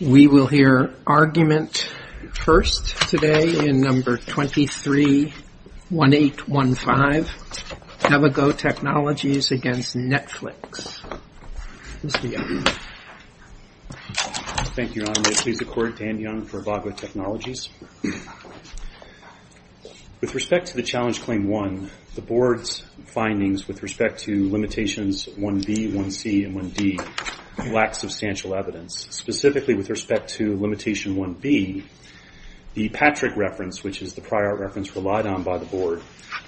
We will hear argument first today in No. 231815, Avago Technologies v. Netflix. Mr. Young. Thank you, Your Honor. May it please the Court, Dan Young for Avago Technologies. With respect to the Challenge Claim 1, the Board's findings with respect to Limitations 1b, 1c, and 1d lack substantial evidence, specifically with respect to Limitation 1b, the Patrick reference, which is the prior reference relied on by the Board,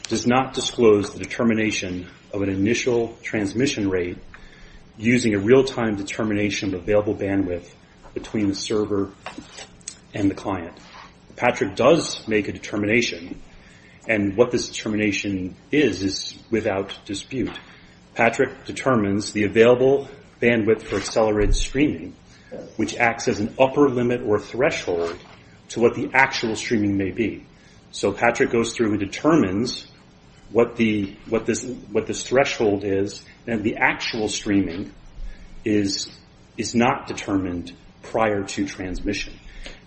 does not disclose the determination of an initial transmission rate using a real-time determination of available bandwidth between the server and the client. Patrick does make a determination, and what this determination is is without dispute. In fact, Patrick determines the available bandwidth for accelerated streaming, which acts as an upper limit or threshold to what the actual streaming may be. So Patrick goes through and determines what this threshold is, and the actual streaming is not determined prior to transmission.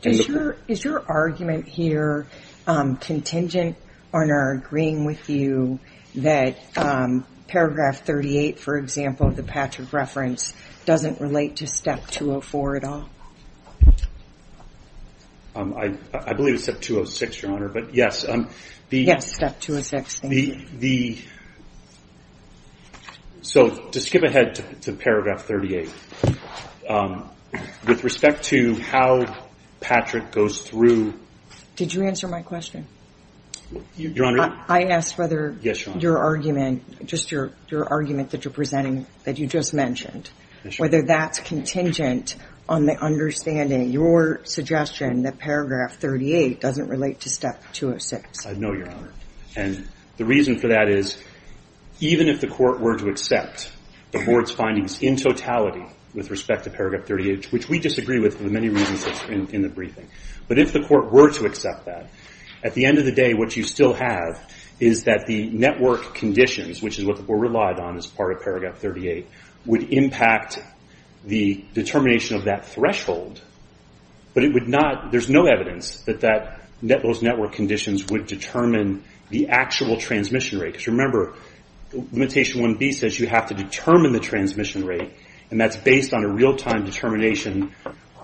Is your argument here contingent on our agreeing with you that Paragraph 38, for example, of the Patrick reference, doesn't relate to Step 204 at all? I believe it's Step 206, Your Honor, but yes. Yes, Step 206, thank you. So to skip ahead to Paragraph 38, with respect to how Patrick goes through ---- Did you answer my question? Your Honor? I asked whether your argument, just your argument that you're presenting, that you just mentioned, whether that's contingent on the understanding, your suggestion, that Paragraph 38 doesn't relate to Step 206. I know, Your Honor. And the reason for that is even if the Court were to accept the Board's findings in totality with respect to Paragraph 38, which we disagree with for the many reasons in the briefing, but if the Court were to accept that, at the end of the day what you still have is that the network conditions, which is what the Board relied on as part of Paragraph 38, would impact the determination of that threshold, but it would not ---- there's no evidence that those network conditions would determine the actual transmission rate. Because remember, Limitation 1B says you have to determine the transmission rate, and that's based on a real-time determination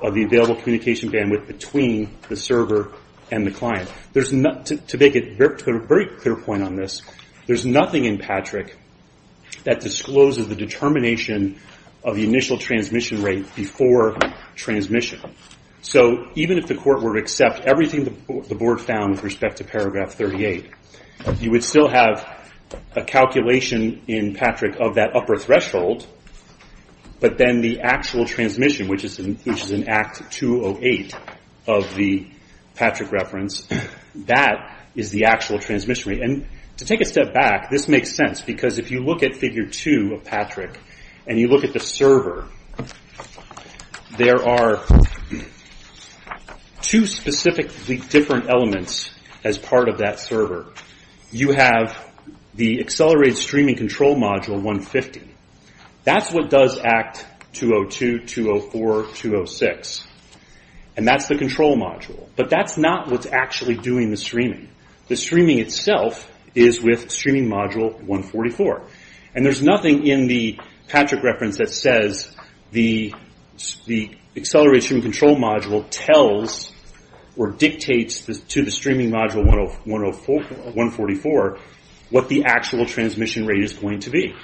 of the available communication bandwidth between the server and the client. To make a very clear point on this, there's nothing in Patrick that discloses the determination of the initial transmission rate before transmission. So even if the Court were to accept everything the Board found with respect to Paragraph 38, you would still have a calculation in Patrick of that upper threshold, but then the actual transmission, which is in Act 208 of the Patrick reference, that is the actual transmission rate. And to take a step back, this makes sense, because if you look at Figure 2 of Patrick, and you look at the server, there are two specifically different elements as part of that server. You have the Accelerated Streaming Control Module 150. That's what does Act 202, 204, 206, and that's the control module. But that's not what's actually doing the streaming. The streaming itself is with Streaming Module 144. And there's nothing in the Patrick reference that says the Accelerated Streaming Control Module tells or dictates to the Streaming Module 144 what the actual transmission rate is going to be.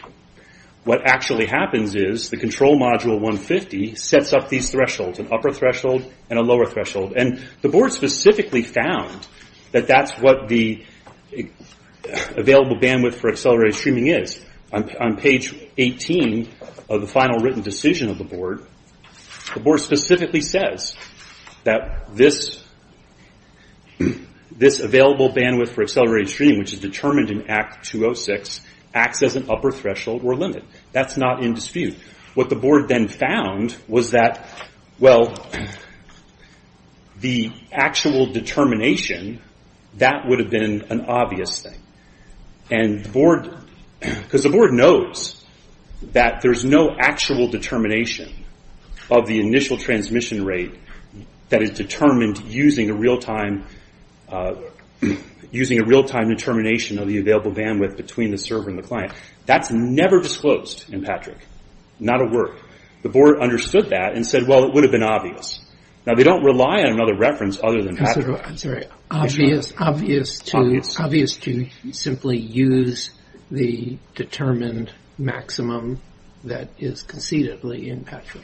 What actually happens is the Control Module 150 sets up these thresholds, an upper threshold and a lower threshold. And the Board specifically found that that's what the Available Bandwidth for Accelerated Streaming is. On page 18 of the final written decision of the Board, the Board specifically says that this Available Bandwidth for Accelerated Streaming, which is determined in Act 206, acts as an upper threshold or limit. That's not in dispute. What the Board then found was that the actual determination, that would have been an obvious thing. Because the Board knows that there's no actual determination of the initial transmission rate that is determined using a real-time determination of the Available Bandwidth between the server and the client. That's never disclosed in Patrick. Not a word. The Board understood that and said, well, it would have been obvious. Now, they don't rely on another reference other than Patrick. I'm sorry. Obvious to simply use the determined maximum that is conceivably in Patrick?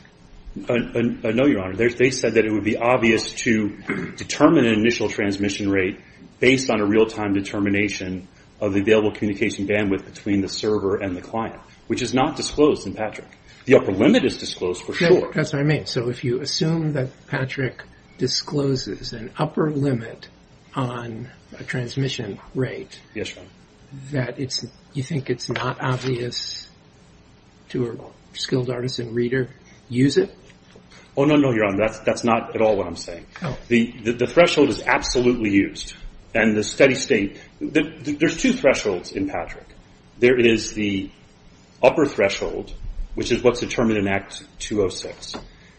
No, Your Honor. They said that it would be obvious to determine an initial transmission rate based on a real-time determination of the Available Communication Bandwidth between the server and the client, which is not disclosed in Patrick. The upper limit is disclosed, for sure. That's what I mean. So if you assume that Patrick discloses an upper limit on a transmission rate, that you think it's not obvious to a skilled artisan reader, use it? Oh, no, no, Your Honor. That's not at all what I'm saying. The threshold is absolutely used. There's two thresholds in Patrick. There is the upper threshold, which is what's determined in Act 206,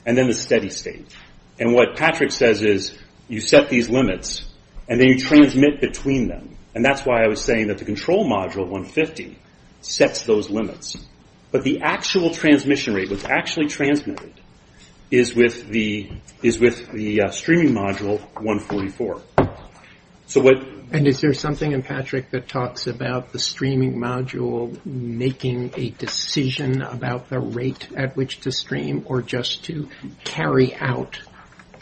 and then the steady state. What Patrick says is you set these limits, and then you transmit between them. That's why I was saying that the Control Module 150 sets those limits. But the actual transmission rate, what's actually transmitted, is with the Streaming Module 144. And is there something in Patrick that talks about the Streaming Module making a decision about the rate at which to stream or just to carry out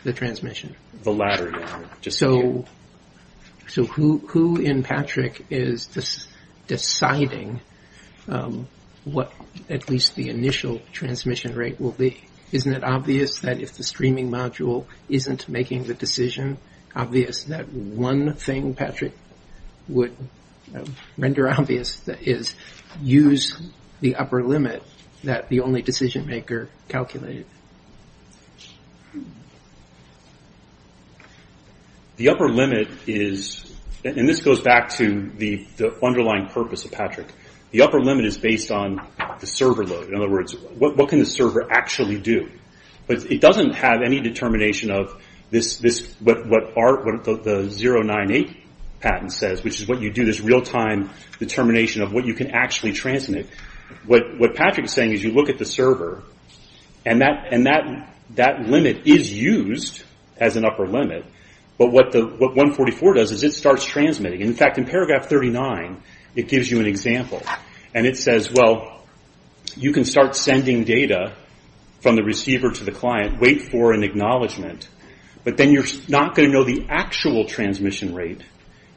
the transmission? The latter, Your Honor. So who in Patrick is deciding what at least the initial transmission rate will be? Isn't it obvious that if the Streaming Module isn't making the decision, that one thing Patrick would render obvious is use the upper limit that the only decision maker calculated? The upper limit is, and this goes back to the underlying purpose of Patrick, the upper limit is based on the server load. In other words, what can the server actually do? But it doesn't have any determination of what the 098 patent says, which is what you do, this real-time determination of what you can actually transmit. What Patrick is saying is you look at the server, and that limit is used as an upper limit. But what 144 does is it starts transmitting. In fact, in paragraph 39, it gives you an example. And it says, well, you can start sending data from the receiver to the client, wait for an acknowledgement, but then you're not going to know the actual transmission rate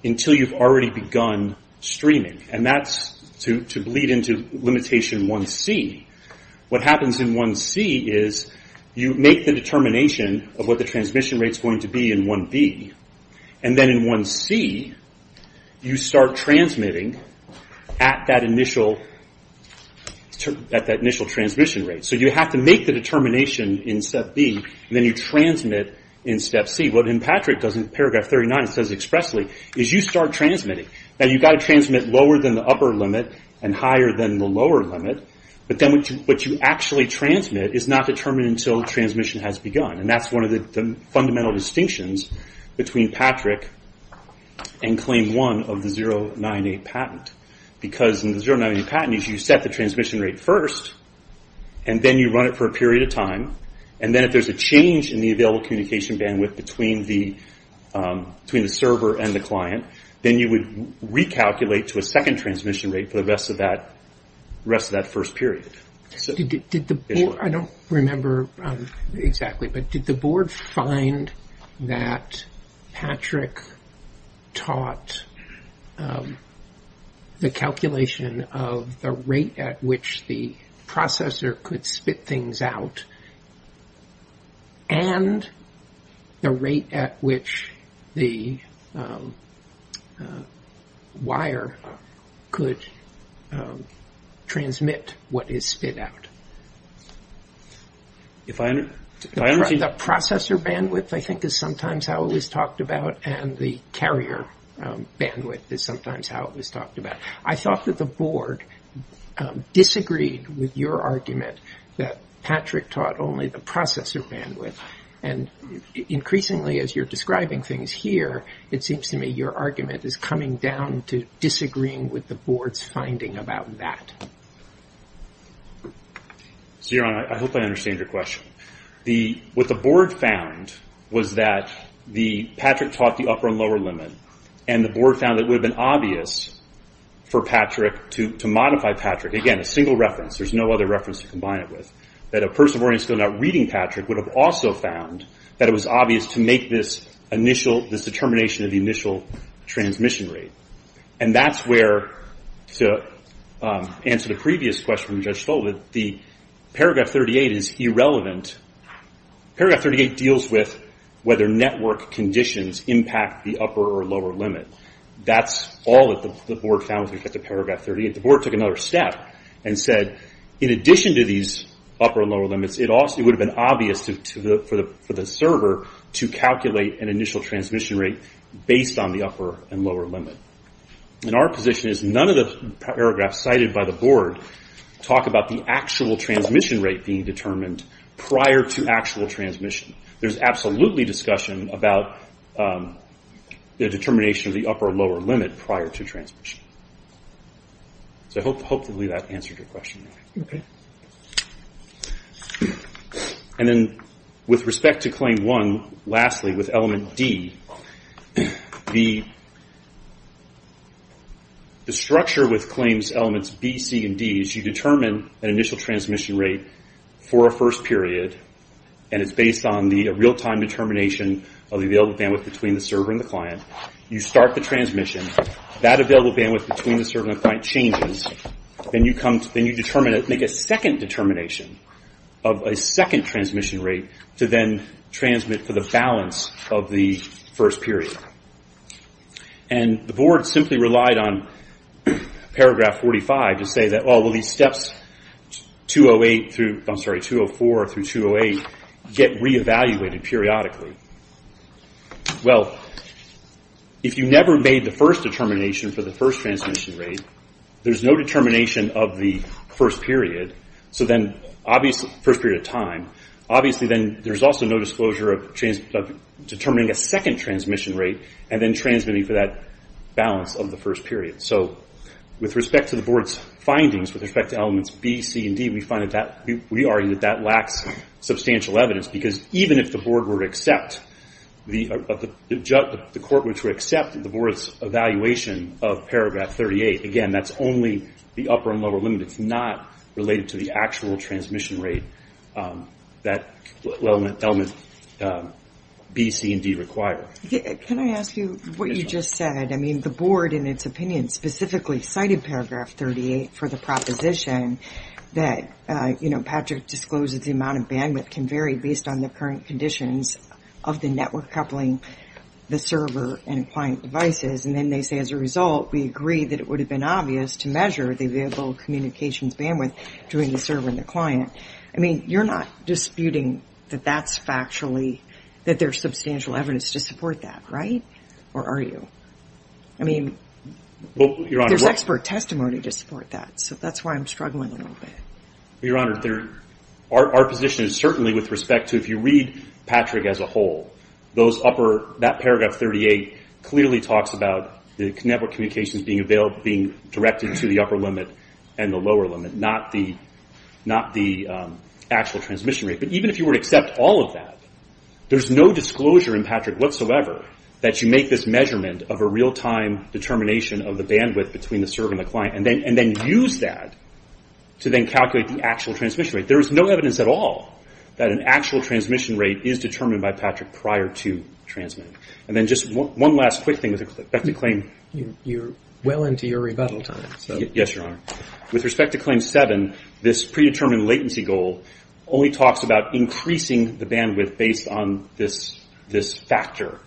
until you've already begun streaming. And that's to bleed into limitation 1C. What happens in 1C is you make the determination of what the transmission rate is going to be in 1B. And then in 1C, you start transmitting at that initial transmission rate. So you have to make the determination in step B, and then you transmit in step C. What Patrick does in paragraph 39, it says expressly, is you start transmitting. Now, you've got to transmit lower than the upper limit and higher than the lower limit. But then what you actually transmit is not determined until transmission has begun. And that's one of the fundamental distinctions between Patrick and claim 1 of the 098 patent. Because in the 098 patent, you set the transmission rate first, and then you run it for a period of time. And then if there's a change in the available communication bandwidth between the server and the client, then you would recalculate to a second transmission rate for the rest of that first period. I don't remember exactly, but did the board find that Patrick taught the calculation of the rate at which the processor could spit things out and the rate at which the wire could transmit what is spit out? The processor bandwidth, I think, is sometimes how it was talked about, and the carrier bandwidth is sometimes how it was talked about. I thought that the board disagreed with your argument that Patrick taught only the processor bandwidth. And increasingly, as you're describing things here, it seems to me your argument is coming down to disagreeing with the board's finding about that. Your Honor, I hope I understand your question. What the board found was that Patrick taught the upper and lower limit, and the board found that it would have been obvious for Patrick to modify Patrick. Again, a single reference. There's no other reference to combine it with. That a person who is still not reading Patrick would have also found that it was obvious to make this determination of the initial transmission rate. And that's where, to answer the previous question from Judge Fulton, the paragraph 38 is irrelevant. Paragraph 38 deals with whether network conditions impact the upper or lower limit. That's all that the board found with regard to paragraph 38. The board took another step and said, in addition to these upper and lower limits, it would have been obvious for the server to calculate an initial transmission rate based on the upper and lower limit. Our position is none of the paragraphs cited by the board talk about the actual transmission rate being determined prior to actual transmission. There's absolutely discussion about the determination of the upper and lower limit prior to transmission. I hope hopefully that answered your question. And then with respect to Claim 1, lastly with Element D, the structure with Claims Elements B, C, and D is you determine an initial transmission rate for a first period, and it's based on the real-time determination of the available bandwidth between the server and the client. You start the transmission. That available bandwidth between the server and the client changes. Then you make a second determination of a second transmission rate to then transmit for the balance of the first period. And the board simply relied on paragraph 45 to say that all of these steps 204 through 208 get re-evaluated periodically. Well, if you never made the first determination for the first transmission rate, there's no determination of the first period of time. Obviously then there's also no disclosure of determining a second transmission rate and then transmitting for that balance of the first period. So with respect to the board's findings, with respect to Elements B, C, and D, we argue that that lacks substantial evidence because even if the court were to accept the board's evaluation of paragraph 38, again, that's only the upper and lower limit. It's not related to the actual transmission rate that Elements B, C, and D require. Can I ask you what you just said? I mean, the board, in its opinion, specifically cited paragraph 38 for the proposition that Patrick disclosed that the amount of bandwidth can vary based on the current conditions of the network coupling the server and client devices. And then they say as a result, we agree that it would have been obvious to measure the available communications bandwidth between the server and the client. I mean, you're not disputing that that's factually, that there's substantial evidence to support that, right? Or are you? I mean, there's expert testimony to support that. So that's why I'm struggling a little bit. Your Honor, our position is certainly with respect to if you read Patrick as a whole, that paragraph 38 clearly talks about the network communications being directed to the upper limit and the lower limit, not the actual transmission rate. But even if you were to accept all of that, there's no disclosure in Patrick whatsoever that you make this measurement of a real-time determination of the bandwidth between the server and the client and then use that to then calculate the actual transmission rate. There is no evidence at all that an actual transmission rate is determined by Patrick prior to transmitting. And then just one last quick thing with respect to claim. You're well into your rebuttal time. Yes, Your Honor. With respect to claim 7, this predetermined latency goal only talks about increasing the bandwidth based on this factor.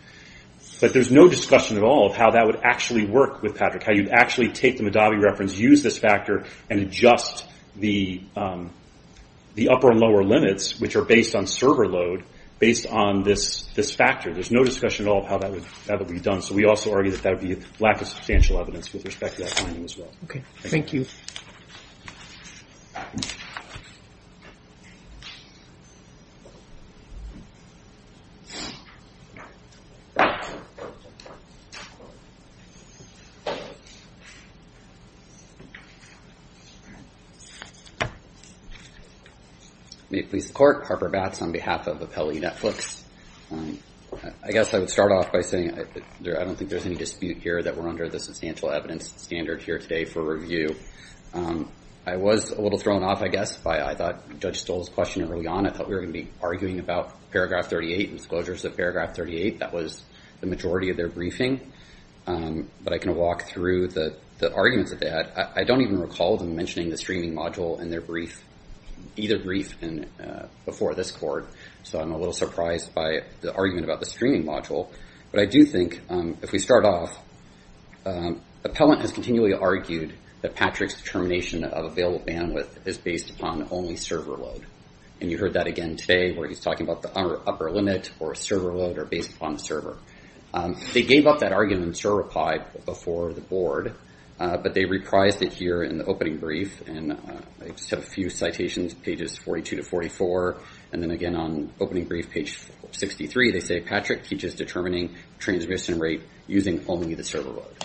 But there's no discussion at all of how that would actually work with Patrick, how you'd actually take the Madawi reference, use this factor, and adjust the upper and lower limits, which are based on server load, based on this factor. There's no discussion at all of how that would be done. So we also argue that that would be a lack of substantial evidence with respect to that finding as well. Okay. Thank you. May it please the Court. Harper Batts on behalf of Appellee Netflix. I guess I would start off by saying I don't think there's any dispute here that we're under the substantial evidence standard here today for review. I was a little thrown off, I guess, by I thought Judge Stoll's question early on. I thought we were going to be arguing about Paragraph 38, disclosures of Paragraph 38. That was the majority of their briefing. But I can walk through the arguments of that. I don't even recall them mentioning the streaming module in their brief, either brief before this court. So I'm a little surprised by the argument about the streaming module. But I do think, if we start off, Appellant has continually argued that Patrick's determination of available bandwidth is based upon only server load. And you heard that again today where he's talking about the upper limit or server load or based upon the server. They gave up that argument and still replied before the board. But they reprised it here in the opening brief. And I just have a few citations, pages 42 to 44. And then, again, on opening brief, page 63, they say, Patrick teaches determining transmission rate using only the server load.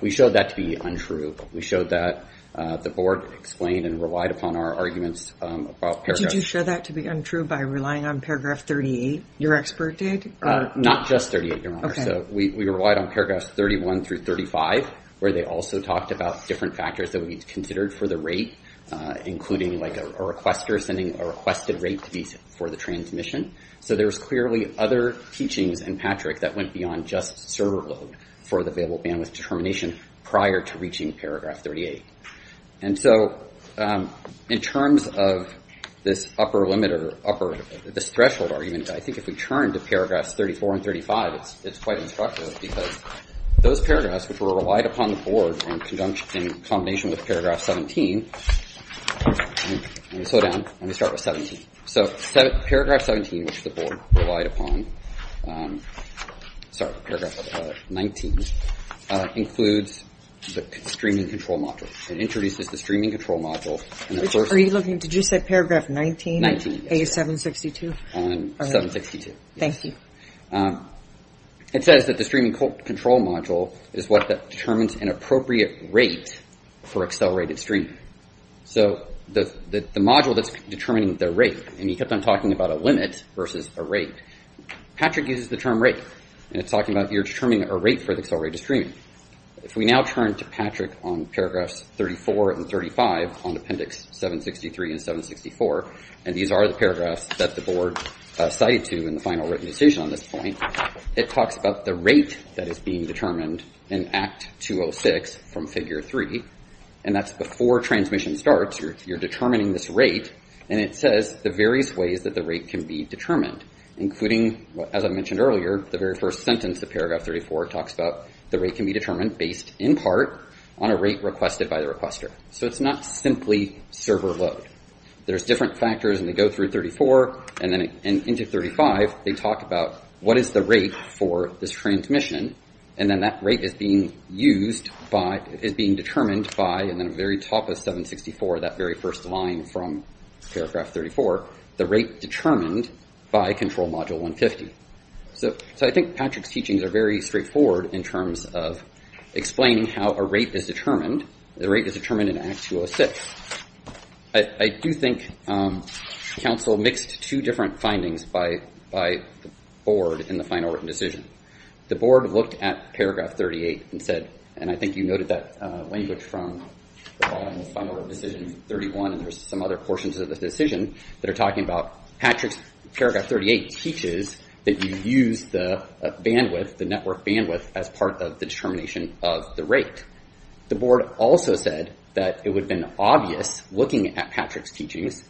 We showed that to be untrue. We showed that the board explained and relied upon our arguments about Paragraph 38. Did you show that to be untrue by relying on Paragraph 38, your expert did? Not just 38, Your Honor. We relied on Paragraphs 31 through 35, where they also talked about different factors that would be considered for the rate, including a requester sending a requested rate for the transmission. So there's clearly other teachings in Patrick that went beyond just server load for the available bandwidth determination prior to reaching Paragraph 38. And so in terms of this upper limit or this threshold argument, I think if we turn to Paragraphs 34 and 35, it's quite instructive. Because those paragraphs, which were relied upon the board in combination with Paragraph 17, let me slow down, let me start with 17. So Paragraph 17, which the board relied upon, sorry, Paragraph 19, includes the streaming control module. It introduces the streaming control module. Are you looking, did you say Paragraph 19? 19, yes. A762? 762. Thank you. It says that the streaming control module is what determines an appropriate rate for accelerated streaming. So the module that's determining the rate, and he kept on talking about a limit versus a rate, Patrick uses the term rate. And it's talking about you're determining a rate for accelerated streaming. If we now turn to Patrick on Paragraphs 34 and 35 on Appendix 763 and 764, and these are the paragraphs that the board cited to in the final written decision on this point, it talks about the rate that is being determined in Act 206 from Figure 3. And that's before transmission starts. You're determining this rate. And it says the various ways that the rate can be determined, including, as I mentioned earlier, the very first sentence of Paragraph 34 talks about the rate can be determined based in part on a rate requested by the requester. So it's not simply server load. There's different factors, and they go through 34 and then into 35. They talk about what is the rate for this transmission. And then that rate is being used by, is being determined by, and then the very top of 764, that very first line from Paragraph 34, the rate determined by Control Module 150. So I think Patrick's teachings are very straightforward in terms of explaining how a rate is determined. The rate is determined in Act 206. I do think counsel mixed two different findings by the board in the final written decision. The board looked at Paragraph 38 and said, and I think you noted that language from the bottom of Final Decision 31, and there's some other portions of the decision that are talking about Patrick's Paragraph 38 teaches that you use the bandwidth, the network bandwidth, as part of the determination of the rate. The board also said that it would have been obvious looking at Patrick's teachings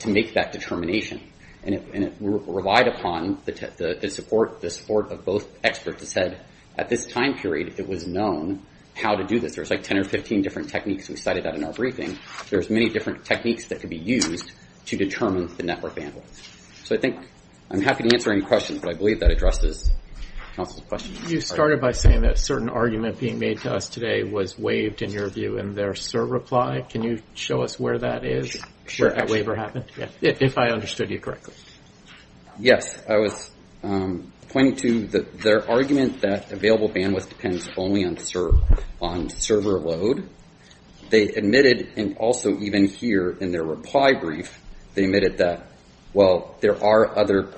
to make that determination, and it relied upon the support of both experts that said at this time period it was known how to do this. There's like 10 or 15 different techniques we cited out in our briefing. There's many different techniques that could be used to determine the network bandwidth. So I think I'm happy to answer any questions, but I believe that addresses counsel's questions. You started by saying that a certain argument being made to us today was waived in your view in their CERB reply. Can you show us where that is, where that waiver happened, if I understood you correctly? Yes. I was pointing to their argument that available bandwidth depends only on CERB, on server load. They admitted, and also even here in their reply brief, they admitted that, well, there are other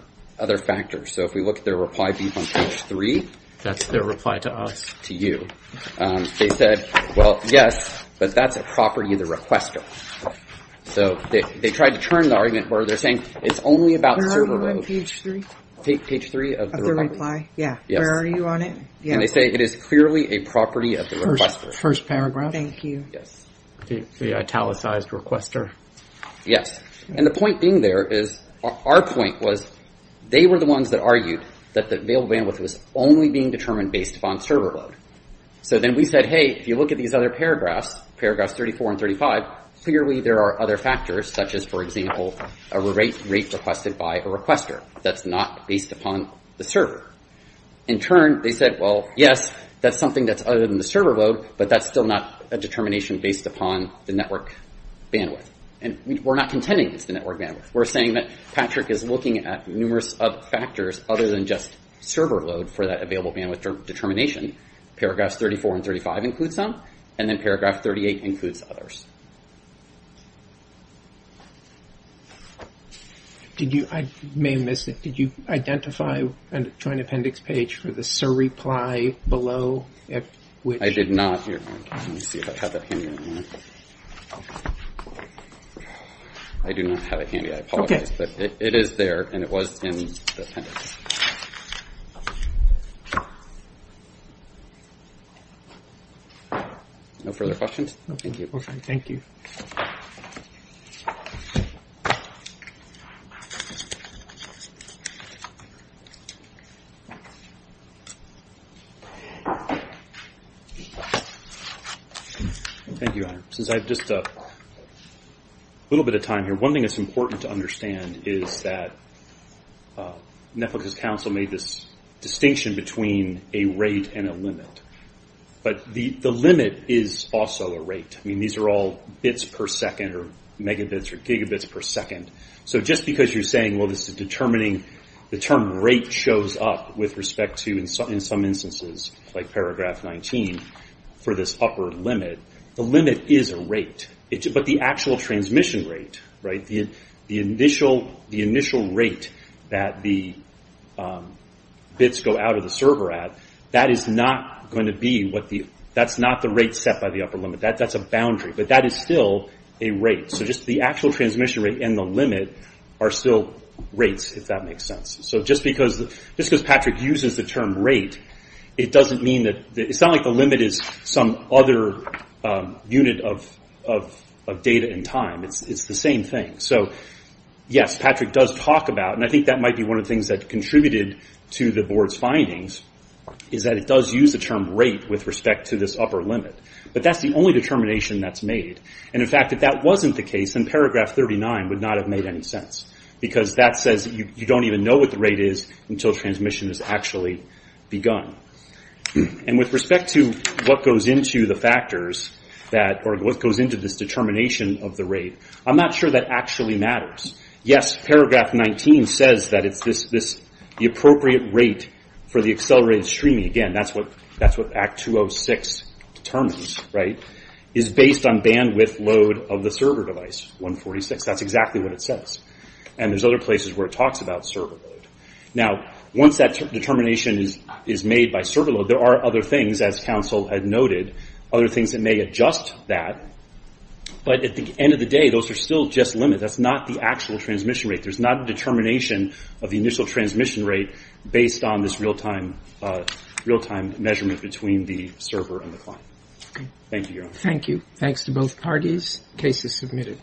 factors. So if we look at their reply brief on page 3. That's their reply to us. To you. They said, well, yes, but that's a property of the requester. So they tried to turn the argument where they're saying it's only about server load. Where are you on page 3? Page 3 of the reply. Yeah. Where are you on it? And they say it is clearly a property of the requester. First paragraph. Thank you. Yes. The italicized requester. Yes. And the point being there is, our point was, they were the ones that argued that the available bandwidth was only being determined based upon server load. So then we said, hey, if you look at these other paragraphs, paragraphs 34 and 35, clearly there are other factors, such as, for example, a rate requested by a requester. That's not based upon the server. In turn, they said, well, yes, that's something that's other than the server load, but that's still not a determination based upon the network bandwidth. And we're not contending it's the network bandwidth. We're saying that Patrick is looking at numerous other factors other than just server load for that available bandwidth determination. Paragraphs 34 and 35 include some. And then paragraph 38 includes others. I may have missed it. Did you identify a joint appendix page for the SIR reply below? I did not. Let me see if I have that handy. I do not have it handy. I apologize. But it is there, and it was in the appendix. No further questions? Thank you. Thank you, Honor. Since I have just a little bit of time here, one thing that's important to understand is that Netflix's counsel made this distinction between a rate and a limit. But the limit is also a rate. I mean, these are all bits per second or megabits or gigabits per second. So just because you're saying, well, the term rate shows up with respect to, in some instances, like paragraph 19 for this upper limit, the limit is a rate. But the actual transmission rate, right, the initial rate that the bits go out of the server at, that is not going to be what the – that's not the rate set by the upper limit. That's a boundary. But that is still a rate. So just the actual transmission rate and the limit are still rates, if that makes sense. So just because Patrick uses the term rate, it doesn't mean that – it's not like the limit is some other unit of data and time. It's the same thing. So, yes, Patrick does talk about, and I think that might be one of the things that contributed to the board's findings, is that it does use the term rate with respect to this upper limit. But that's the only determination that's made. And, in fact, if that wasn't the case, then paragraph 39 would not have made any sense, because that says you don't even know what the rate is until transmission has actually begun. And with respect to what goes into the factors that – or what goes into this determination of the rate, I'm not sure that actually matters. Yes, paragraph 19 says that it's this – the appropriate rate for the accelerated streaming – again, that's what Act 206 determines, right – is based on bandwidth load of the server device, 146. That's exactly what it says. And there's other places where it talks about server load. Now, once that determination is made by server load, there are other things, as counsel had noted, other things that may adjust that. But at the end of the day, those are still just limits. That's not the actual transmission rate. There's not a determination of the initial transmission rate based on this real-time measurement between the server and the client. Thank you, Your Honor. Thank you. Thanks to both parties. Case is submitted.